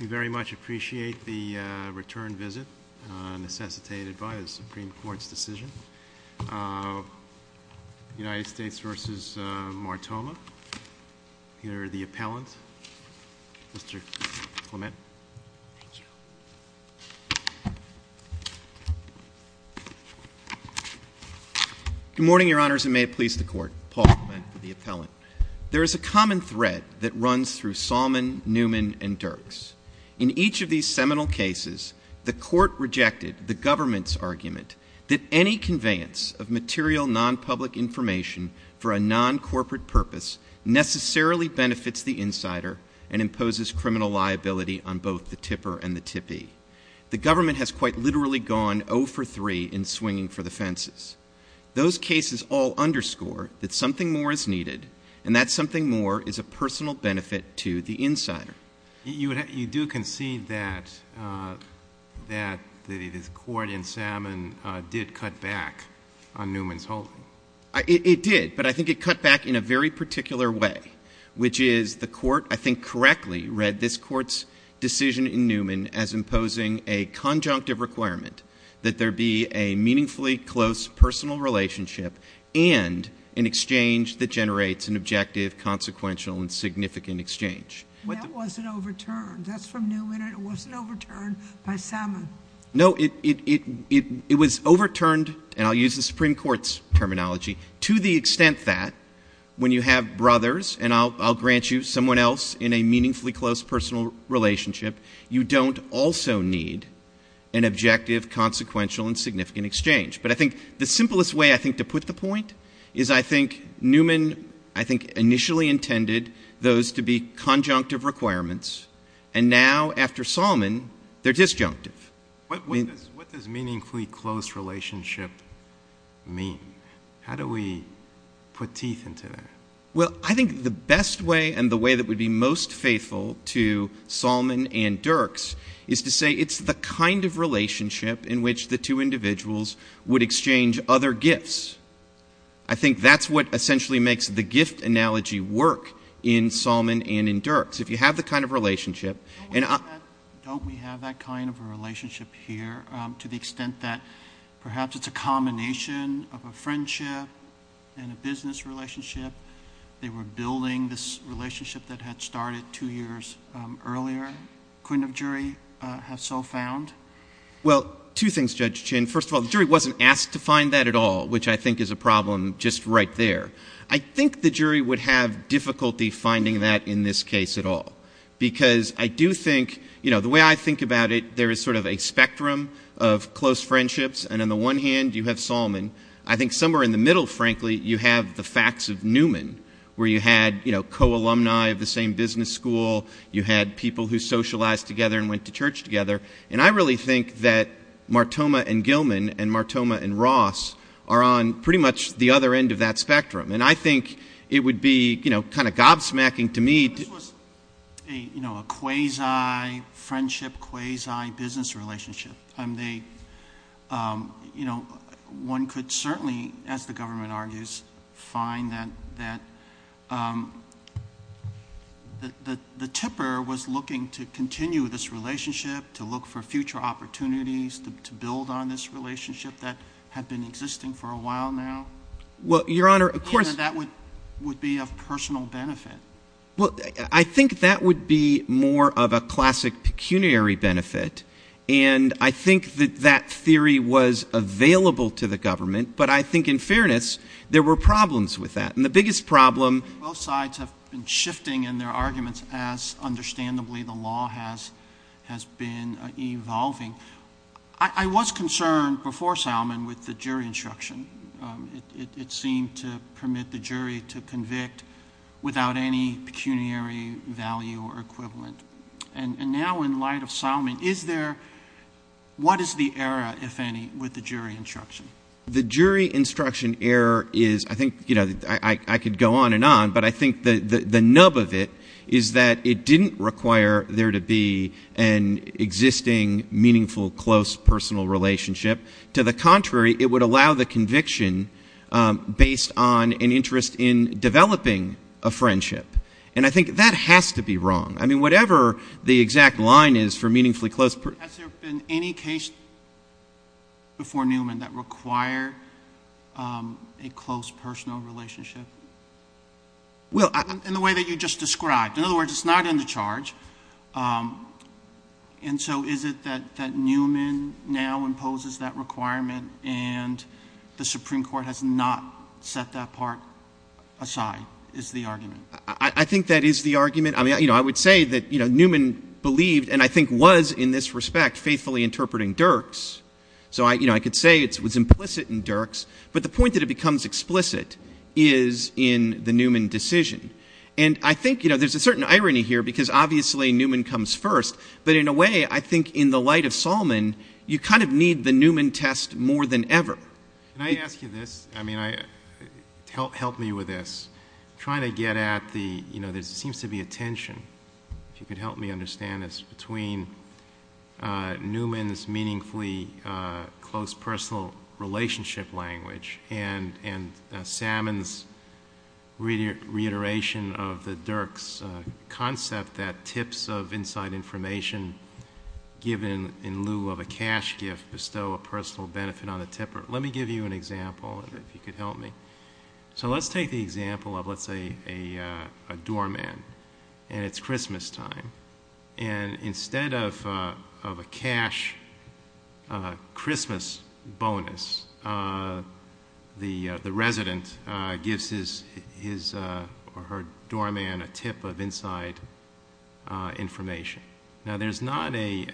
We very much appreciate the return visit necessitated by the Supreme Court's decision. United States v. Martoma. Here are the appellants. Mr. Clement. Thank you. Good morning, your honors, and may it please the court. Paul Clement, the appellant. There is a common thread that runs through Salmon, Newman, and Dirks. In each of these seminal cases, the court rejected the government's argument that any conveyance of material non-public information for a non-corporate purpose necessarily benefits the insider and imposes criminal liability on both the tipper and the tippee. The government has quite literally gone 0 for 3 in swinging for the fences. Those cases all underscore that something more is needed, and that something more is a personal benefit to the insider. You do concede that the court in Salmon did cut back on Newman's holding. It did, but I think it cut back in a very particular way, which is the court, I think correctly, read this court's decision in Newman as imposing a conjunctive requirement that there be a meaningfully close personal relationship and an exchange that generates an objective, consequential, and significant exchange. That wasn't overturned, that's from Newman, it wasn't overturned by Salmon. No, it was overturned, and I'll use the Supreme Court's terminology, to the extent that when you have brothers, and I'll grant you someone else in a meaningfully close personal relationship, you don't also need an objective, consequential, and significant exchange. But I think the simplest way, I think, to put the point is I think Newman, I think initially intended those to be conjunctive requirements, and now after Salmon, they're disjunctive. What does meaningfully close relationship mean? How do we put teeth into that? Well, I think the best way and the way that would be most faithful to Salmon and Dirks is to say it's the kind of relationship in which the two individuals would exchange other gifts. I think that's what essentially makes the gift analogy work in Salmon and in Dirks. If you have the kind of relationship, and I- Kind of a relationship here to the extent that perhaps it's a combination of a friendship and a business relationship. They were building this relationship that had started two years earlier. Couldn't a jury have so found? Well, two things, Judge Chin. First of all, the jury wasn't asked to find that at all, which I think is a problem just right there. I think the jury would have difficulty finding that in this case at all. Because I do think, the way I think about it, there is sort of a spectrum of close friendships, and on the one hand, you have Salmon. I think somewhere in the middle, frankly, you have the facts of Newman, where you had co-alumni of the same business school. You had people who socialized together and went to church together. And I really think that Martoma and Gilman and Martoma and Ross are on pretty much the other end of that spectrum. And I think it would be kind of gobsmacking to me- This was a quasi-friendship, quasi-business relationship. One could certainly, as the government argues, find that the tipper was looking to continue this relationship, to look for future opportunities to build on this relationship that had been existing for a while now. Well, your honor, of course- That would be of personal benefit. Well, I think that would be more of a classic pecuniary benefit. And I think that that theory was available to the government, but I think in fairness, there were problems with that. And the biggest problem- Both sides have been shifting in their arguments as, understandably, the law has been evolving. I was concerned before Salmon with the jury instruction. It seemed to permit the jury to convict without any pecuniary value or equivalent. And now, in light of Salmon, is there- What is the error, if any, with the jury instruction? The jury instruction error is- I think I could go on and on, but I think the nub of it is that it didn't require there to be an existing, meaningful, close, personal relationship. To the contrary, it would allow the conviction based on an interest in developing a friendship. And I think that has to be wrong. I mean, whatever the exact line is for meaningfully close- Has there been any case before Newman that require a close, personal relationship? Well- In the way that you just described. In other words, it's not in the charge. And so, is it that Newman now imposes that requirement and the Supreme Court has not set that part aside, is the argument? I think that is the argument. I mean, I would say that Newman believed, and I think was in this respect, faithfully interpreting Dirks. So, I could say it was implicit in Dirks, but the point that it becomes explicit is in the Newman decision. And I think there's a certain irony here, because obviously Newman comes first. But in a way, I think in the light of Salmon, you kind of need the Newman test more than ever. Can I ask you this? I mean, help me with this. Trying to get at the, there seems to be a tension, if you could help me understand this, between Newman's meaningfully close personal relationship language. And Salmon's reiteration of the Dirks concept that tips of inside information given in lieu of a cash gift bestow a personal benefit on a tipper. Let me give you an example, if you could help me. So let's take the example of, let's say, a doorman, and it's Christmas time. And instead of a cash Christmas bonus, the resident gives his or her doorman a tip of inside information. Now there's not a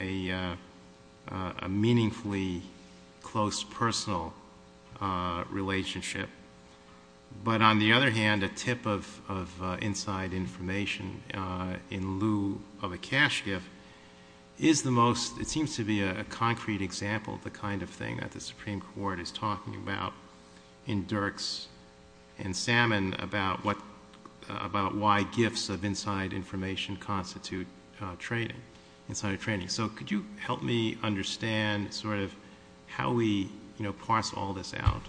meaningfully close personal relationship. But on the other hand, a tip of inside information in lieu of a cash gift is the most, it seems to be a concrete example of the kind of thing that the Supreme Court is talking about in Dirks and So could you help me understand sort of how we parse all this out?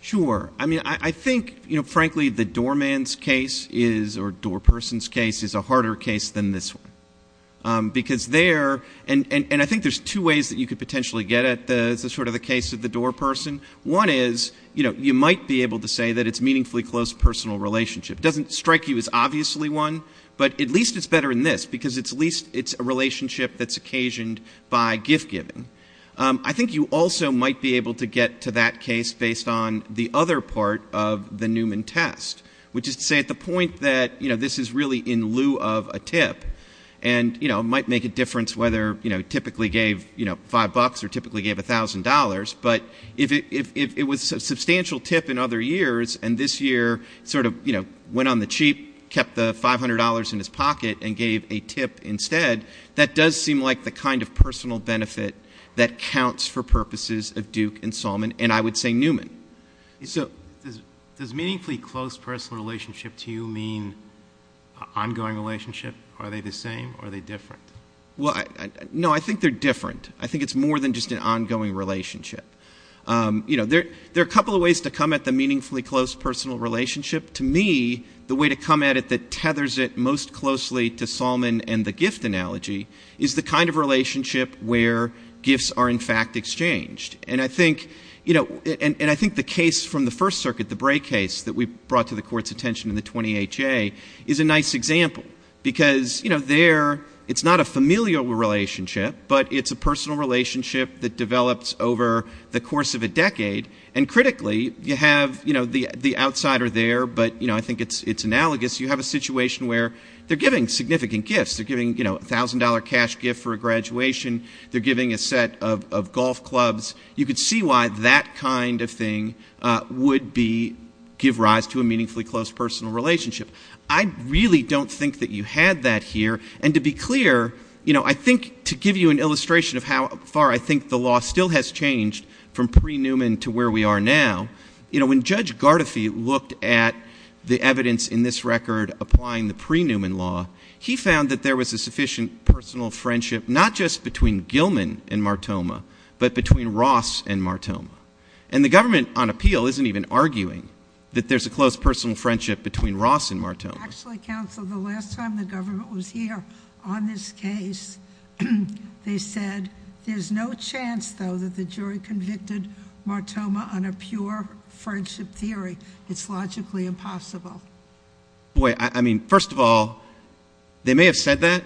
Sure. I mean, I think, frankly, the doorman's case is, or doorperson's case is a harder case than this one. Because there, and I think there's two ways that you could potentially get at the sort of the case of the doorperson. One is, you might be able to say that it's meaningfully close personal relationship. It doesn't strike you as obviously one, but at least it's better than this. Because at least it's a relationship that's occasioned by gift giving. I think you also might be able to get to that case based on the other part of the Newman test. Which is to say, at the point that this is really in lieu of a tip. And it might make a difference whether he typically gave five bucks or typically gave $1,000. But if it was a substantial tip in other years, and this year sort of went on the cheap, he kept the $500 in his pocket and gave a tip instead. That does seem like the kind of personal benefit that counts for purposes of Duke and Salmon, and I would say Newman. So- Does meaningfully close personal relationship to you mean ongoing relationship? Are they the same or are they different? Well, no, I think they're different. I think it's more than just an ongoing relationship. There are a couple of ways to come at the meaningfully close personal relationship. To me, the way to come at it that tethers it most closely to Salmon and the gift analogy is the kind of relationship where gifts are in fact exchanged. And I think the case from the first circuit, the Bray case that we brought to the court's attention in the 20HA, is a nice example. Because there, it's not a familial relationship, but it's a personal relationship that develops over the course of a decade. And critically, you have the outsider there, but I think it's analogous. You have a situation where they're giving significant gifts. They're giving $1,000 cash gift for a graduation. They're giving a set of golf clubs. You could see why that kind of thing would give rise to a meaningfully close personal relationship. I really don't think that you had that here. And to be clear, I think to give you an illustration of how far I think the law still has changed from pre-Newman to where we are now, when Judge Gardafi looked at the evidence in this record applying the pre-Newman law, he found that there was a sufficient personal friendship, not just between Gilman and Martoma, but between Ross and Martoma. And the government on appeal isn't even arguing that there's a close personal friendship between Ross and Martoma. Actually, counsel, the last time the government was here on this case, they said, there's no chance, though, that the jury convicted Martoma on a pure friendship theory. It's logically impossible. Boy, I mean, first of all, they may have said that,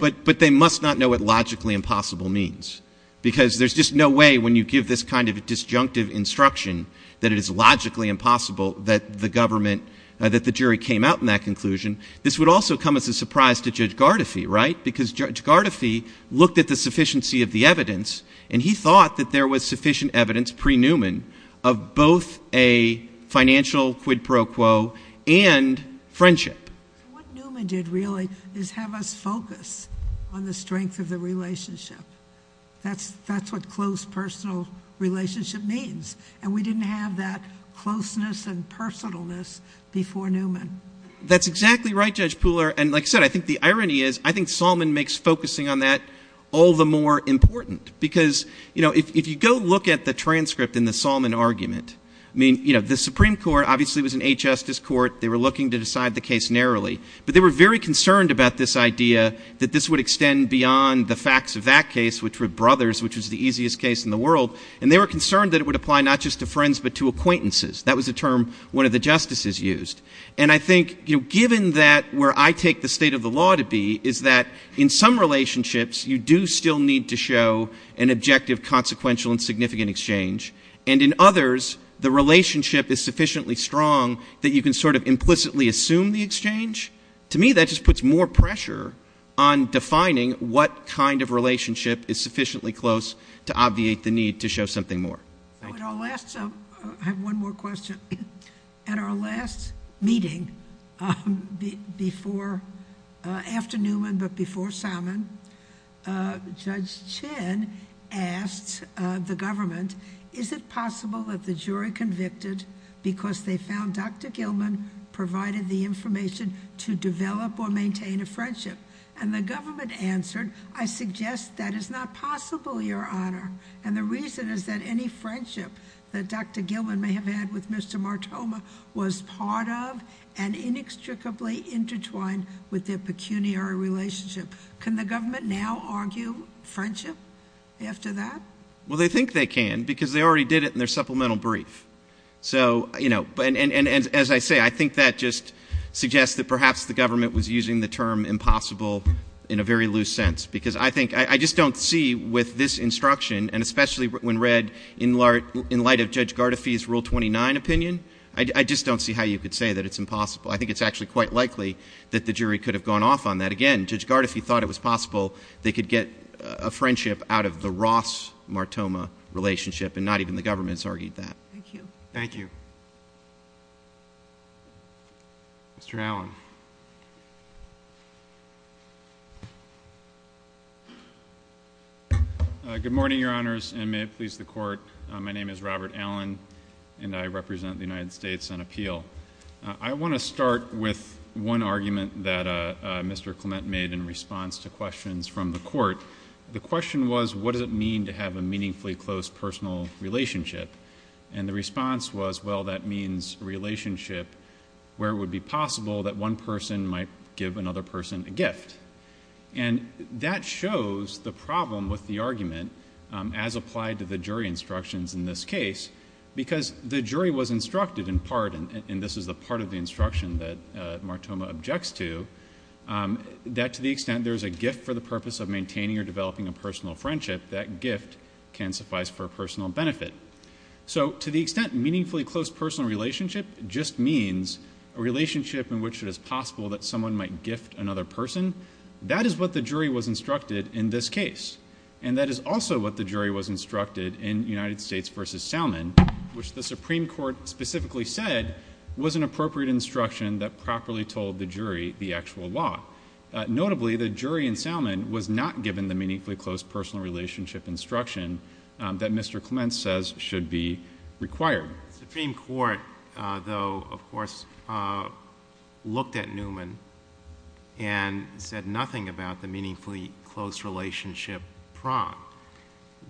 but they must not know what logically impossible means. Because there's just no way, when you give this kind of disjunctive instruction, that it is logically impossible that the government, that the jury came out in that conclusion. This would also come as a surprise to Judge Gardafi, right? Because Judge Gardafi looked at the sufficiency of the evidence, and he thought that there was sufficient evidence, pre-Newman, of both a financial quid pro quo and friendship. What Newman did, really, is have us focus on the strength of the relationship. That's what close personal relationship means. And we didn't have that closeness and personalness before Newman. That's exactly right, Judge Pooler. And like I said, I think the irony is, I think Solomon makes focusing on that all the more important. Because if you go look at the transcript in the Solomon argument, I mean, the Supreme Court obviously was an eight justice court, they were looking to decide the case narrowly. But they were very concerned about this idea that this would extend beyond the facts of that case, which were brothers, which was the easiest case in the world. And they were concerned that it would apply not just to friends, but to acquaintances. That was a term one of the justices used. And I think, given that where I take the state of the law to be, is that in some relationships, you do still need to show an objective, consequential, and significant exchange. And in others, the relationship is sufficiently strong that you can sort of implicitly assume the exchange. To me, that just puts more pressure on defining what kind of relationship is sufficiently close to obviate the need to show something more. Thank you. I have one more question. At our last meeting, before, after Newman, but before Salmon, Judge Chen asked the government, is it possible that the jury convicted because they found Dr. Gilman provided the information to develop or maintain a friendship? And the government answered, I suggest that is not possible, your honor. And the reason is that any friendship that Dr. Gilman may have had with Mr. Martoma was part of and inextricably intertwined with their pecuniary relationship. Can the government now argue friendship after that? Well, they think they can, because they already did it in their supplemental brief. So, and as I say, I think that just suggests that perhaps the government was using the term impossible in a very loose sense. Because I think, I just don't see with this instruction, and especially when read in light of Judge Gardafi's Rule 29 opinion. I just don't see how you could say that it's impossible. I think it's actually quite likely that the jury could have gone off on that. Again, Judge Gardafi thought it was possible they could get a friendship out of the Ross-Martoma relationship, and not even the government has argued that. Thank you. Thank you. Mr. Allen. Good morning, your honors, and may it please the court. My name is Robert Allen, and I represent the United States on appeal. I want to start with one argument that Mr. Clement made in response to questions from the court. The question was, what does it mean to have a meaningfully close personal relationship? And the response was, well, that means relationship where it would be possible that one person might give another person a gift. And that shows the problem with the argument as applied to the jury instructions in this case. Because the jury was instructed in part, and this is the part of the instruction that Martoma objects to, that to the extent there's a gift for the purpose of maintaining or developing a personal friendship, that gift can suffice for personal benefit. So to the extent meaningfully close personal relationship just means a relationship in which it is possible that someone might gift another person. That is what the jury was instructed in this case. And that is also what the jury was instructed in United States versus Salmon, which the Supreme Court specifically said was an appropriate instruction that properly told the jury the actual law. Notably, the jury in Salmon was not given the meaningfully close personal relationship instruction that Mr. Clements says should be required. The Supreme Court, though, of course, looked at Newman and said nothing about the meaningfully close relationship prong.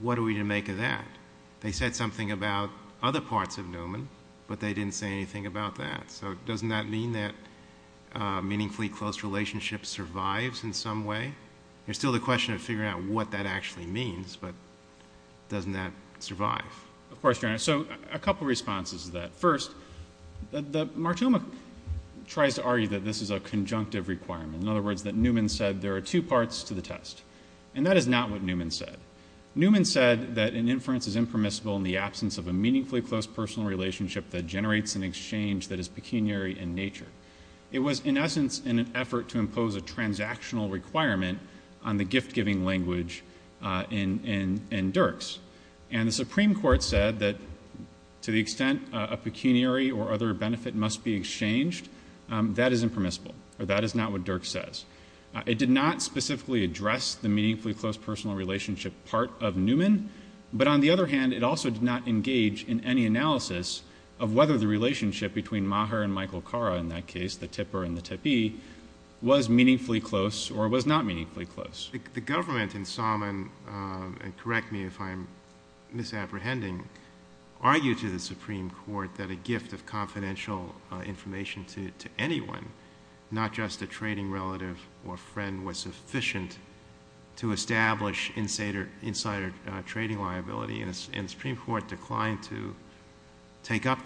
What are we to make of that? They said something about other parts of Newman, but they didn't say anything about that. So doesn't that mean that meaningfully close relationship survives in some way? There's still the question of figuring out what that actually means, but doesn't that survive? Of course, Your Honor, so a couple responses to that. First, the Martoma tries to argue that this is a conjunctive requirement. In other words, that Newman said there are two parts to the test, and that is not what Newman said. Newman said that an inference is impermissible in the absence of a meaningfully close personal relationship that generates an exchange that is pecuniary in nature. It was, in essence, in an effort to impose a transactional requirement on the gift-giving language in Dirks. And the Supreme Court said that to the extent a pecuniary or other benefit must be exchanged, that is impermissible, or that is not what Dirks says. It did not specifically address the meaningfully close personal relationship part of Newman. But on the other hand, it also did not engage in any analysis of whether the relationship between Maher and Michael Cara in that case, the tipper and the tippee, was meaningfully close or was not meaningfully close. The government in Salmon, and correct me if I'm misapprehending, argued to the Supreme Court that a gift of confidential information to anyone, not just a trading relative or friend, was sufficient to establish insider trading liability. And the Supreme Court declined to take up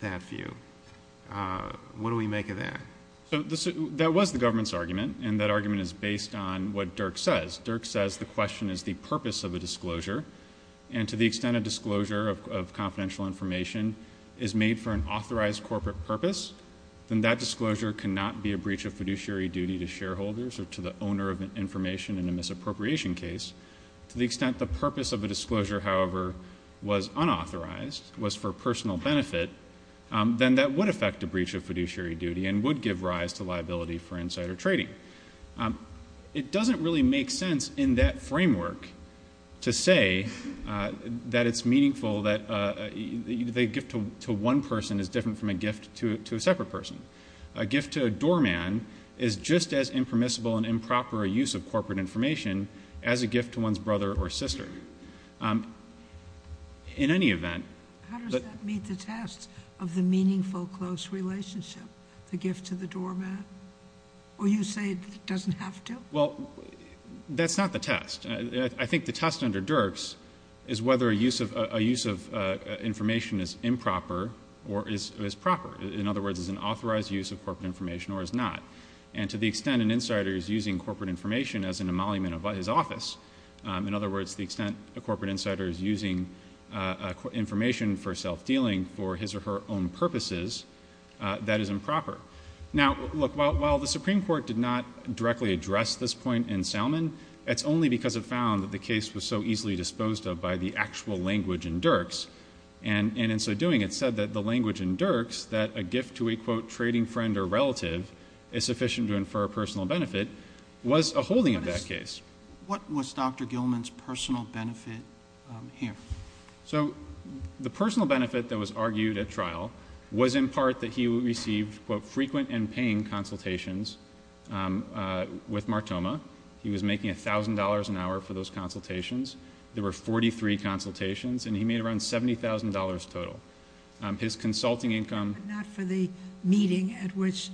that view. What do we make of that? So that was the government's argument, and that argument is based on what Dirks says. Dirks says the question is the purpose of a disclosure. And to the extent a disclosure of confidential information is made for an authorized corporate purpose, then that disclosure cannot be a breach of fiduciary duty to shareholders or to the owner of information in a misappropriation case. To the extent the purpose of a disclosure, however, was unauthorized, was for personal benefit, then that would affect a breach of fiduciary duty and would give rise to liability for insider trading. It doesn't really make sense in that framework to say that it's meaningful that a gift to one person is different from a gift to a separate person. A gift to a doorman is just as impermissible and improper a use of corporate information as a gift to one's brother or sister. In any event- How does that meet the test of the meaningful close relationship? The gift to the doorman? Or you say it doesn't have to? Well, that's not the test. I think the test under Dirks is whether a use of information is improper or is proper. In other words, is an authorized use of corporate information or is not. And to the extent an insider is using corporate information as an emolument of his office, in other words, the extent a corporate insider is using information for self-dealing for his or her own purposes, that is improper. Now, look, while the Supreme Court did not directly address this point in Salmon, it's only because it found that the case was so easily disposed of by the actual language in Dirks. And in so doing, it said that the language in Dirks, that a gift to a, quote, trading friend or relative is sufficient to infer a personal benefit, was a holding of that case. What was Dr. Gilman's personal benefit here? So the personal benefit that was argued at trial was in part that he would receive, quote, frequent and paying consultations with Martoma. He was making $1,000 an hour for those consultations. There were 43 consultations, and he made around $70,000 total. His consulting income- Not for the meeting at which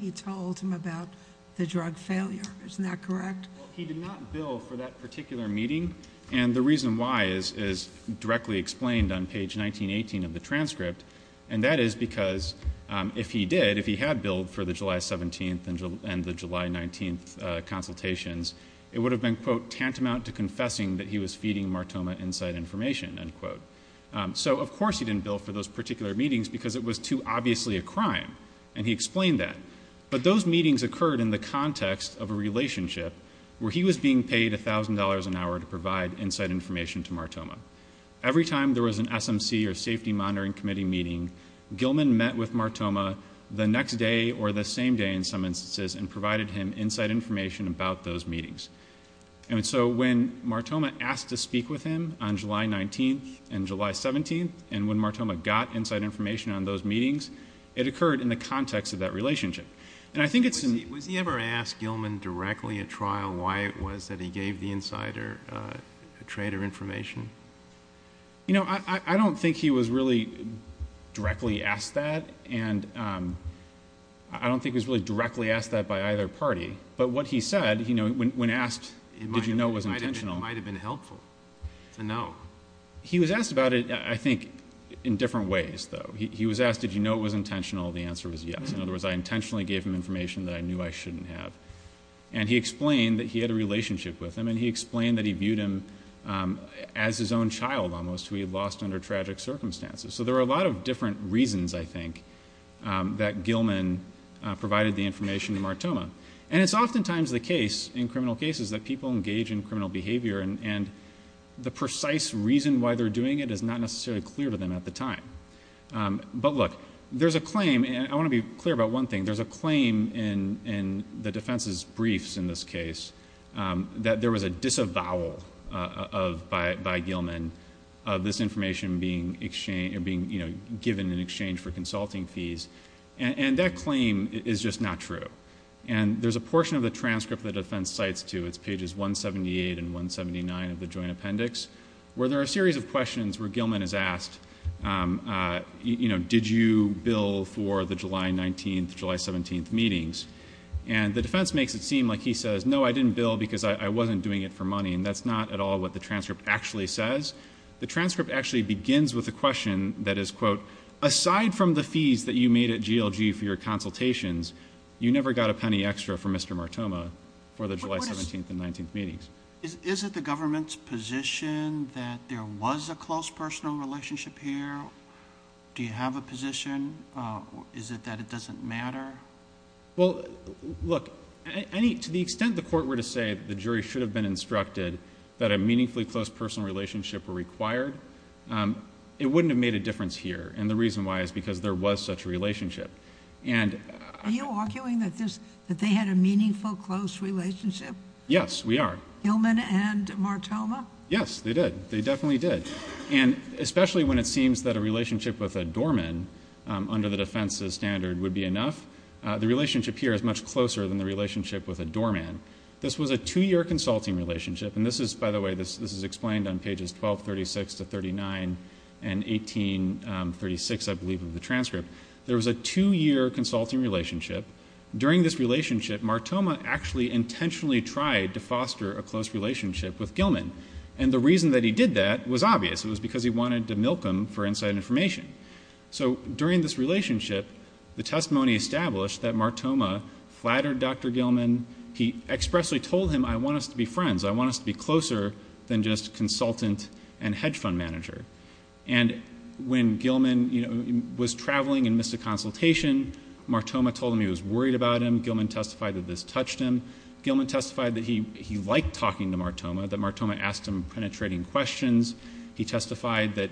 he told him about the drug failure, isn't that correct? He did not bill for that particular meeting, and the reason why is directly explained on page 1918 of the transcript. And that is because if he did, if he had billed for the July 17th and the July 19th consultations, it would have been, quote, tantamount to confessing that he was feeding Martoma inside information, end quote. So of course he didn't bill for those particular meetings because it was too obviously a crime, and he explained that. But those meetings occurred in the context of a relationship where he was being paid $1,000 an hour to provide inside information to Martoma. Every time there was an SMC or Safety Monitoring Committee meeting, Gilman met with Martoma the next day or the same day in some instances and provided him inside information about those meetings. And so when Martoma asked to speak with him on July 19th and July 17th, and when Martoma got inside information on those meetings, it occurred in the context of that relationship. And I think it's- Was he ever asked Gilman directly at trial why it was that he gave the insider a trade of information? You know, I don't think he was really directly asked that. And I don't think he was really directly asked that by either party. But what he said, you know, when asked, did you know it was intentional. It might have been helpful to know. He was asked about it, I think, in different ways, though. He was asked, did you know it was intentional? The answer was yes. In other words, I intentionally gave him information that I knew I shouldn't have. And he explained that he had a relationship with him, and he explained that he viewed him as his own child, almost, who he had lost under tragic circumstances. So there are a lot of different reasons, I think, that Gilman provided the information to Martoma. And it's oftentimes the case, in criminal cases, that people engage in criminal behavior and the precise reason why they're doing it is not necessarily clear to them at the time. But look, there's a claim, and I want to be clear about one thing. There's a claim in the defense's briefs in this case that there was a disavowal by Gilman of this information being given in exchange for consulting fees. And that claim is just not true. And there's a portion of the transcript the defense cites, too. It's pages 178 and 179 of the joint appendix, where there are a series of questions where Gilman is asked, did you bill for the July 19th, July 17th meetings? And the defense makes it seem like he says, no, I didn't bill because I wasn't doing it for money. And that's not at all what the transcript actually says. The transcript actually begins with a question that is, quote, aside from the fees that you made at GLG for your consultations, you never got a penny extra for Mr. Martoma for the July 17th and 19th meetings. Is it the government's position that there was a close personal relationship here? Do you have a position? Is it that it doesn't matter? Well, look, to the extent the court were to say the jury should have been instructed that a meaningfully close personal relationship were required, it wouldn't have made a difference here. And the reason why is because there was such a relationship. And- Are you arguing that they had a meaningful close relationship? Yes, we are. Gilman and Martoma? Yes, they did. They definitely did. And especially when it seems that a relationship with a doorman, under the defense's standard, would be enough. The relationship here is much closer than the relationship with a doorman. This was a two year consulting relationship. And this is, by the way, this is explained on pages 1236 to 39 and 1836, I believe, of the transcript. There was a two year consulting relationship. During this relationship, Martoma actually intentionally tried to foster a close relationship with Gilman. And the reason that he did that was obvious. It was because he wanted to milk him for inside information. So during this relationship, the testimony established that Martoma flattered Dr. Gilman. He expressly told him, I want us to be friends. I want us to be closer than just consultant and hedge fund manager. And when Gilman was traveling and missed a consultation, Martoma told him he was worried about him. Gilman testified that this touched him. Gilman testified that he liked talking to Martoma, that Martoma asked him penetrating questions. He testified that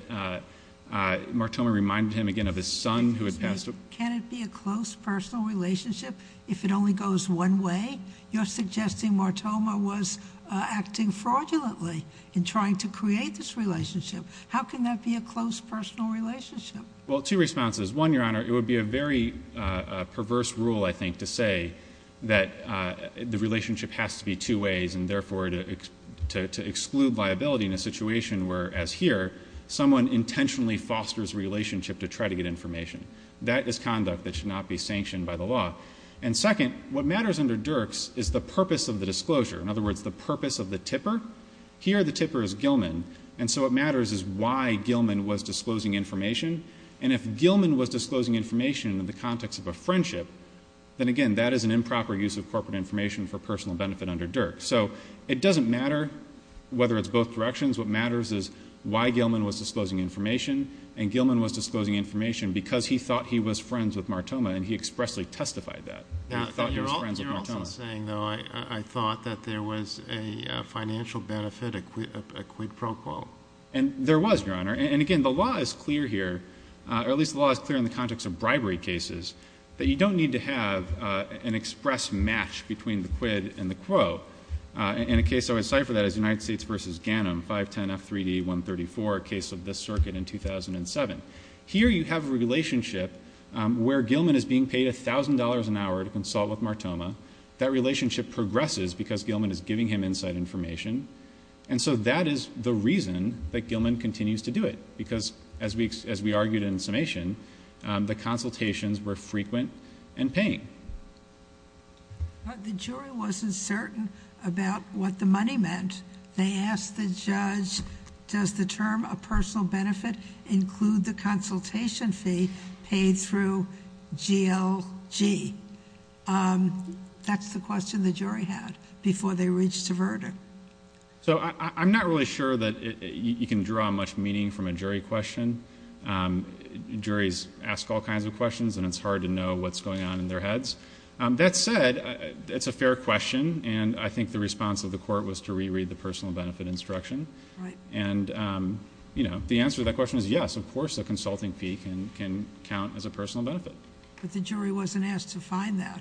Martoma reminded him again of his son who had passed away. Can it be a close personal relationship if it only goes one way? You're suggesting Martoma was acting fraudulently in trying to create this relationship. How can that be a close personal relationship? Well, two responses. One, Your Honor, it would be a very perverse rule, I think, to say that the relationship has to be two ways. And therefore, to exclude liability in a situation where, as here, someone intentionally fosters relationship to try to get information. That is conduct that should not be sanctioned by the law. And second, what matters under Dirks is the purpose of the disclosure. In other words, the purpose of the tipper. Here, the tipper is Gilman, and so what matters is why Gilman was disclosing information. And if Gilman was disclosing information in the context of a friendship, then again, that is an improper use of corporate information for personal benefit under Dirks. So it doesn't matter whether it's both directions. What matters is why Gilman was disclosing information. And Gilman was disclosing information because he thought he was friends with Martoma, and he expressly testified that. He thought he was friends with Martoma. You're also saying, though, I thought that there was a financial benefit, a quid pro quo. And there was, Your Honor. And again, the law is clear here, or at least the law is clear in the context of bribery cases, that you don't need to have an express match between the quid and the quo. In a case, I would cipher that as United States versus Ganim, 510F3D134, a case of this circuit in 2007. Here, you have a relationship where Gilman is being paid $1,000 an hour to consult with Martoma. That relationship progresses because Gilman is giving him inside information. And so that is the reason that Gilman continues to do it. Because as we argued in summation, the consultations were frequent and paying. The jury wasn't certain about what the money meant. They asked the judge, does the term a personal benefit include the consultation fee paid through GLG? That's the question the jury had before they reached a verdict. So I'm not really sure that you can draw much meaning from a jury question. Juries ask all kinds of questions, and it's hard to know what's going on in their heads. That said, it's a fair question, and I think the response of the court was to reread the personal benefit instruction. And the answer to that question is yes, of course a consulting fee can count as a personal benefit. But the jury wasn't asked to find that.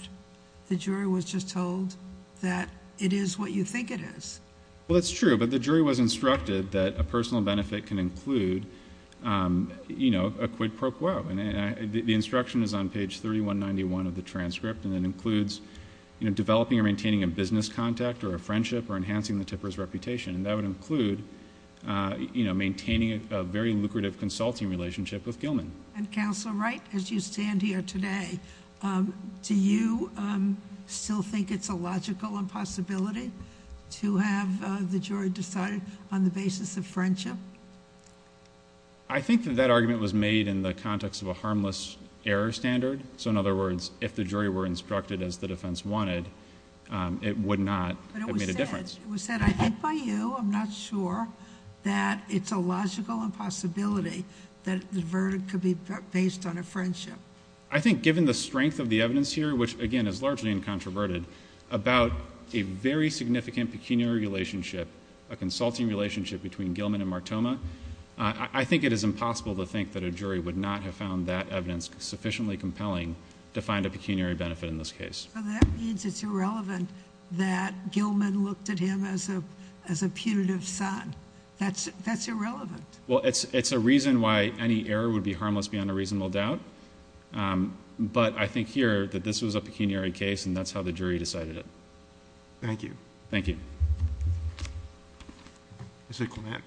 The jury was just told that it is what you think it is. Well, that's true, but the jury was instructed that a personal benefit can include a quid pro quo. And the instruction is on page 3191 of the transcript, and it includes developing or maintaining a business contact, or a friendship, or enhancing the tipper's reputation. And that would include maintaining a very lucrative consulting relationship with Gilman. And Counselor Wright, as you stand here today, do you still think it's a logical impossibility to have the jury decide on the basis of friendship? I think that that argument was made in the context of a harmless error standard. So in other words, if the jury were instructed as the defense wanted, it would not have made a difference. It was said, I think by you, I'm not sure, that it's a logical impossibility that the verdict could be based on a friendship. I think given the strength of the evidence here, which again is largely incontroverted, about a very significant pecuniary relationship, a consulting relationship between Gilman and Martoma. I think it is impossible to think that a jury would not have found that evidence sufficiently compelling to find a pecuniary benefit in this case. So that means it's irrelevant that Gilman looked at him as a punitive son. That's irrelevant. Well, it's a reason why any error would be harmless beyond a reasonable doubt. But I think here that this was a pecuniary case and that's how the jury decided it. Thank you. Thank you. Mr. Clement.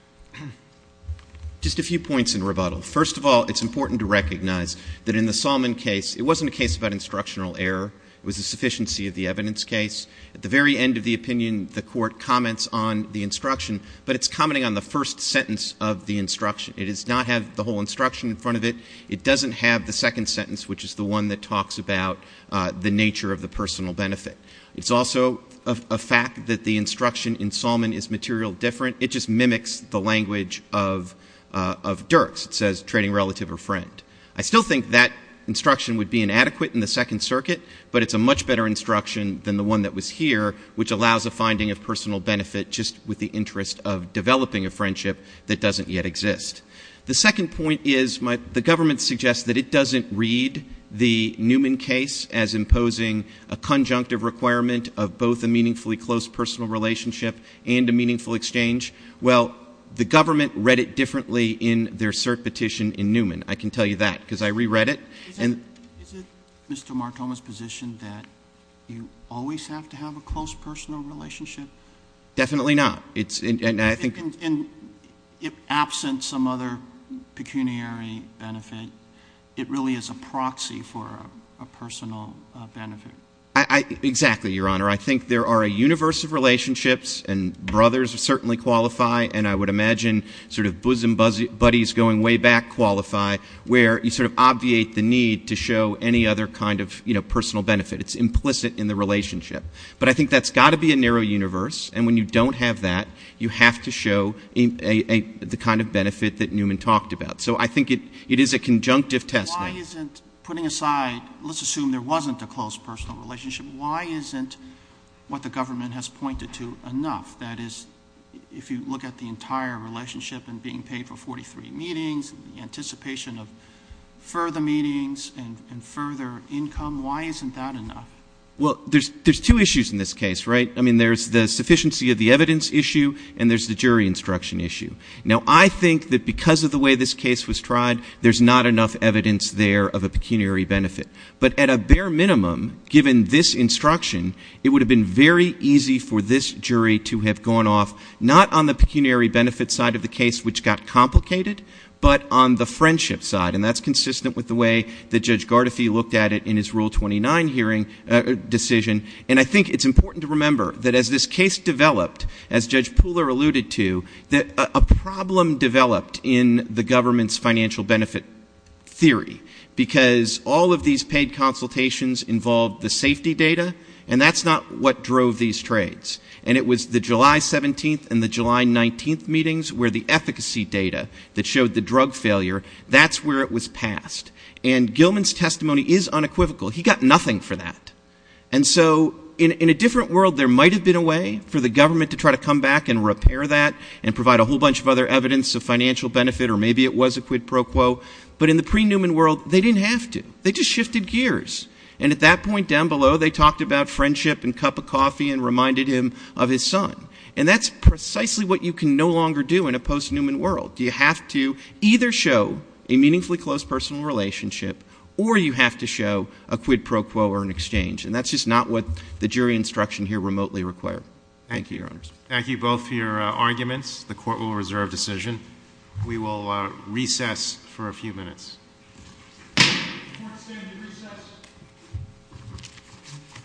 Just a few points in rebuttal. First of all, it's important to recognize that in the Solomon case, it wasn't a case about instructional error. It was a sufficiency of the evidence case. At the very end of the opinion, the court comments on the instruction, but it's commenting on the first sentence of the instruction. It does not have the whole instruction in front of it. It doesn't have the second sentence, which is the one that talks about the nature of the personal benefit. It's also a fact that the instruction in Solomon is material different. It just mimics the language of Dirks. It says trading relative or friend. I still think that instruction would be inadequate in the Second Circuit, but it's a much better instruction than the one that was here, which allows a finding of personal benefit just with the interest of developing a friendship that doesn't yet exist. The second point is the government suggests that it doesn't read the Newman case as imposing a conjunctive requirement of both a meaningfully close personal relationship and a meaningful exchange. Well, the government read it differently in their cert petition in Newman. I can tell you that, because I re-read it. And- Is it Mr. Martoma's position that you always have to have a close personal relationship? Definitely not. It's, and I think- And absent some other pecuniary benefit, it really is a proxy for a personal benefit. Exactly, your honor. I think there are a universe of relationships, and brothers certainly qualify, and I would imagine sort of bosom buddies going way back qualify, where you sort of obviate the need to show any other kind of personal benefit. It's implicit in the relationship. But I think that's got to be a narrow universe, and when you don't have that, you have to show the kind of benefit that Newman talked about. So I think it is a conjunctive test. Why isn't, putting aside, let's assume there wasn't a close personal relationship, why isn't what the government has pointed to enough? That is, if you look at the entire relationship, and being paid for 43 meetings, and the anticipation of further meetings, and further income, why isn't that enough? Well, there's two issues in this case, right? I mean, there's the sufficiency of the evidence issue, and there's the jury instruction issue. Now, I think that because of the way this case was tried, there's not enough evidence there of a pecuniary benefit. But at a bare minimum, given this instruction, it would have been very easy for this jury to have gone off, not on the pecuniary benefit side of the case, which got complicated, but on the friendship side. And that's consistent with the way that Judge Gardefee looked at it in his Rule 29 hearing decision. And I think it's important to remember that as this case developed, as Judge Pooler alluded to, that a problem developed in the government's financial benefit theory. Because all of these paid consultations involved the safety data, and that's not what drove these trades. And it was the July 17th and the July 19th meetings where the efficacy data that showed the drug failure, that's where it was passed. And Gilman's testimony is unequivocal. He got nothing for that. And so, in a different world, there might have been a way for the government to try to come back and repair that, and provide a whole bunch of other evidence of financial benefit, or maybe it was a quid pro quo. But in the pre-Newman world, they didn't have to. They just shifted gears. And at that point down below, they talked about friendship and cup of coffee and reminded him of his son. And that's precisely what you can no longer do in a post-Newman world. You have to either show a meaningfully close personal relationship, or you have to show a quid pro quo or an exchange. And that's just not what the jury instruction here remotely require. Thank you, Your Honors. Thank you both for your arguments. The court will reserve decision. We will recess for a few minutes. The court is standing in recess.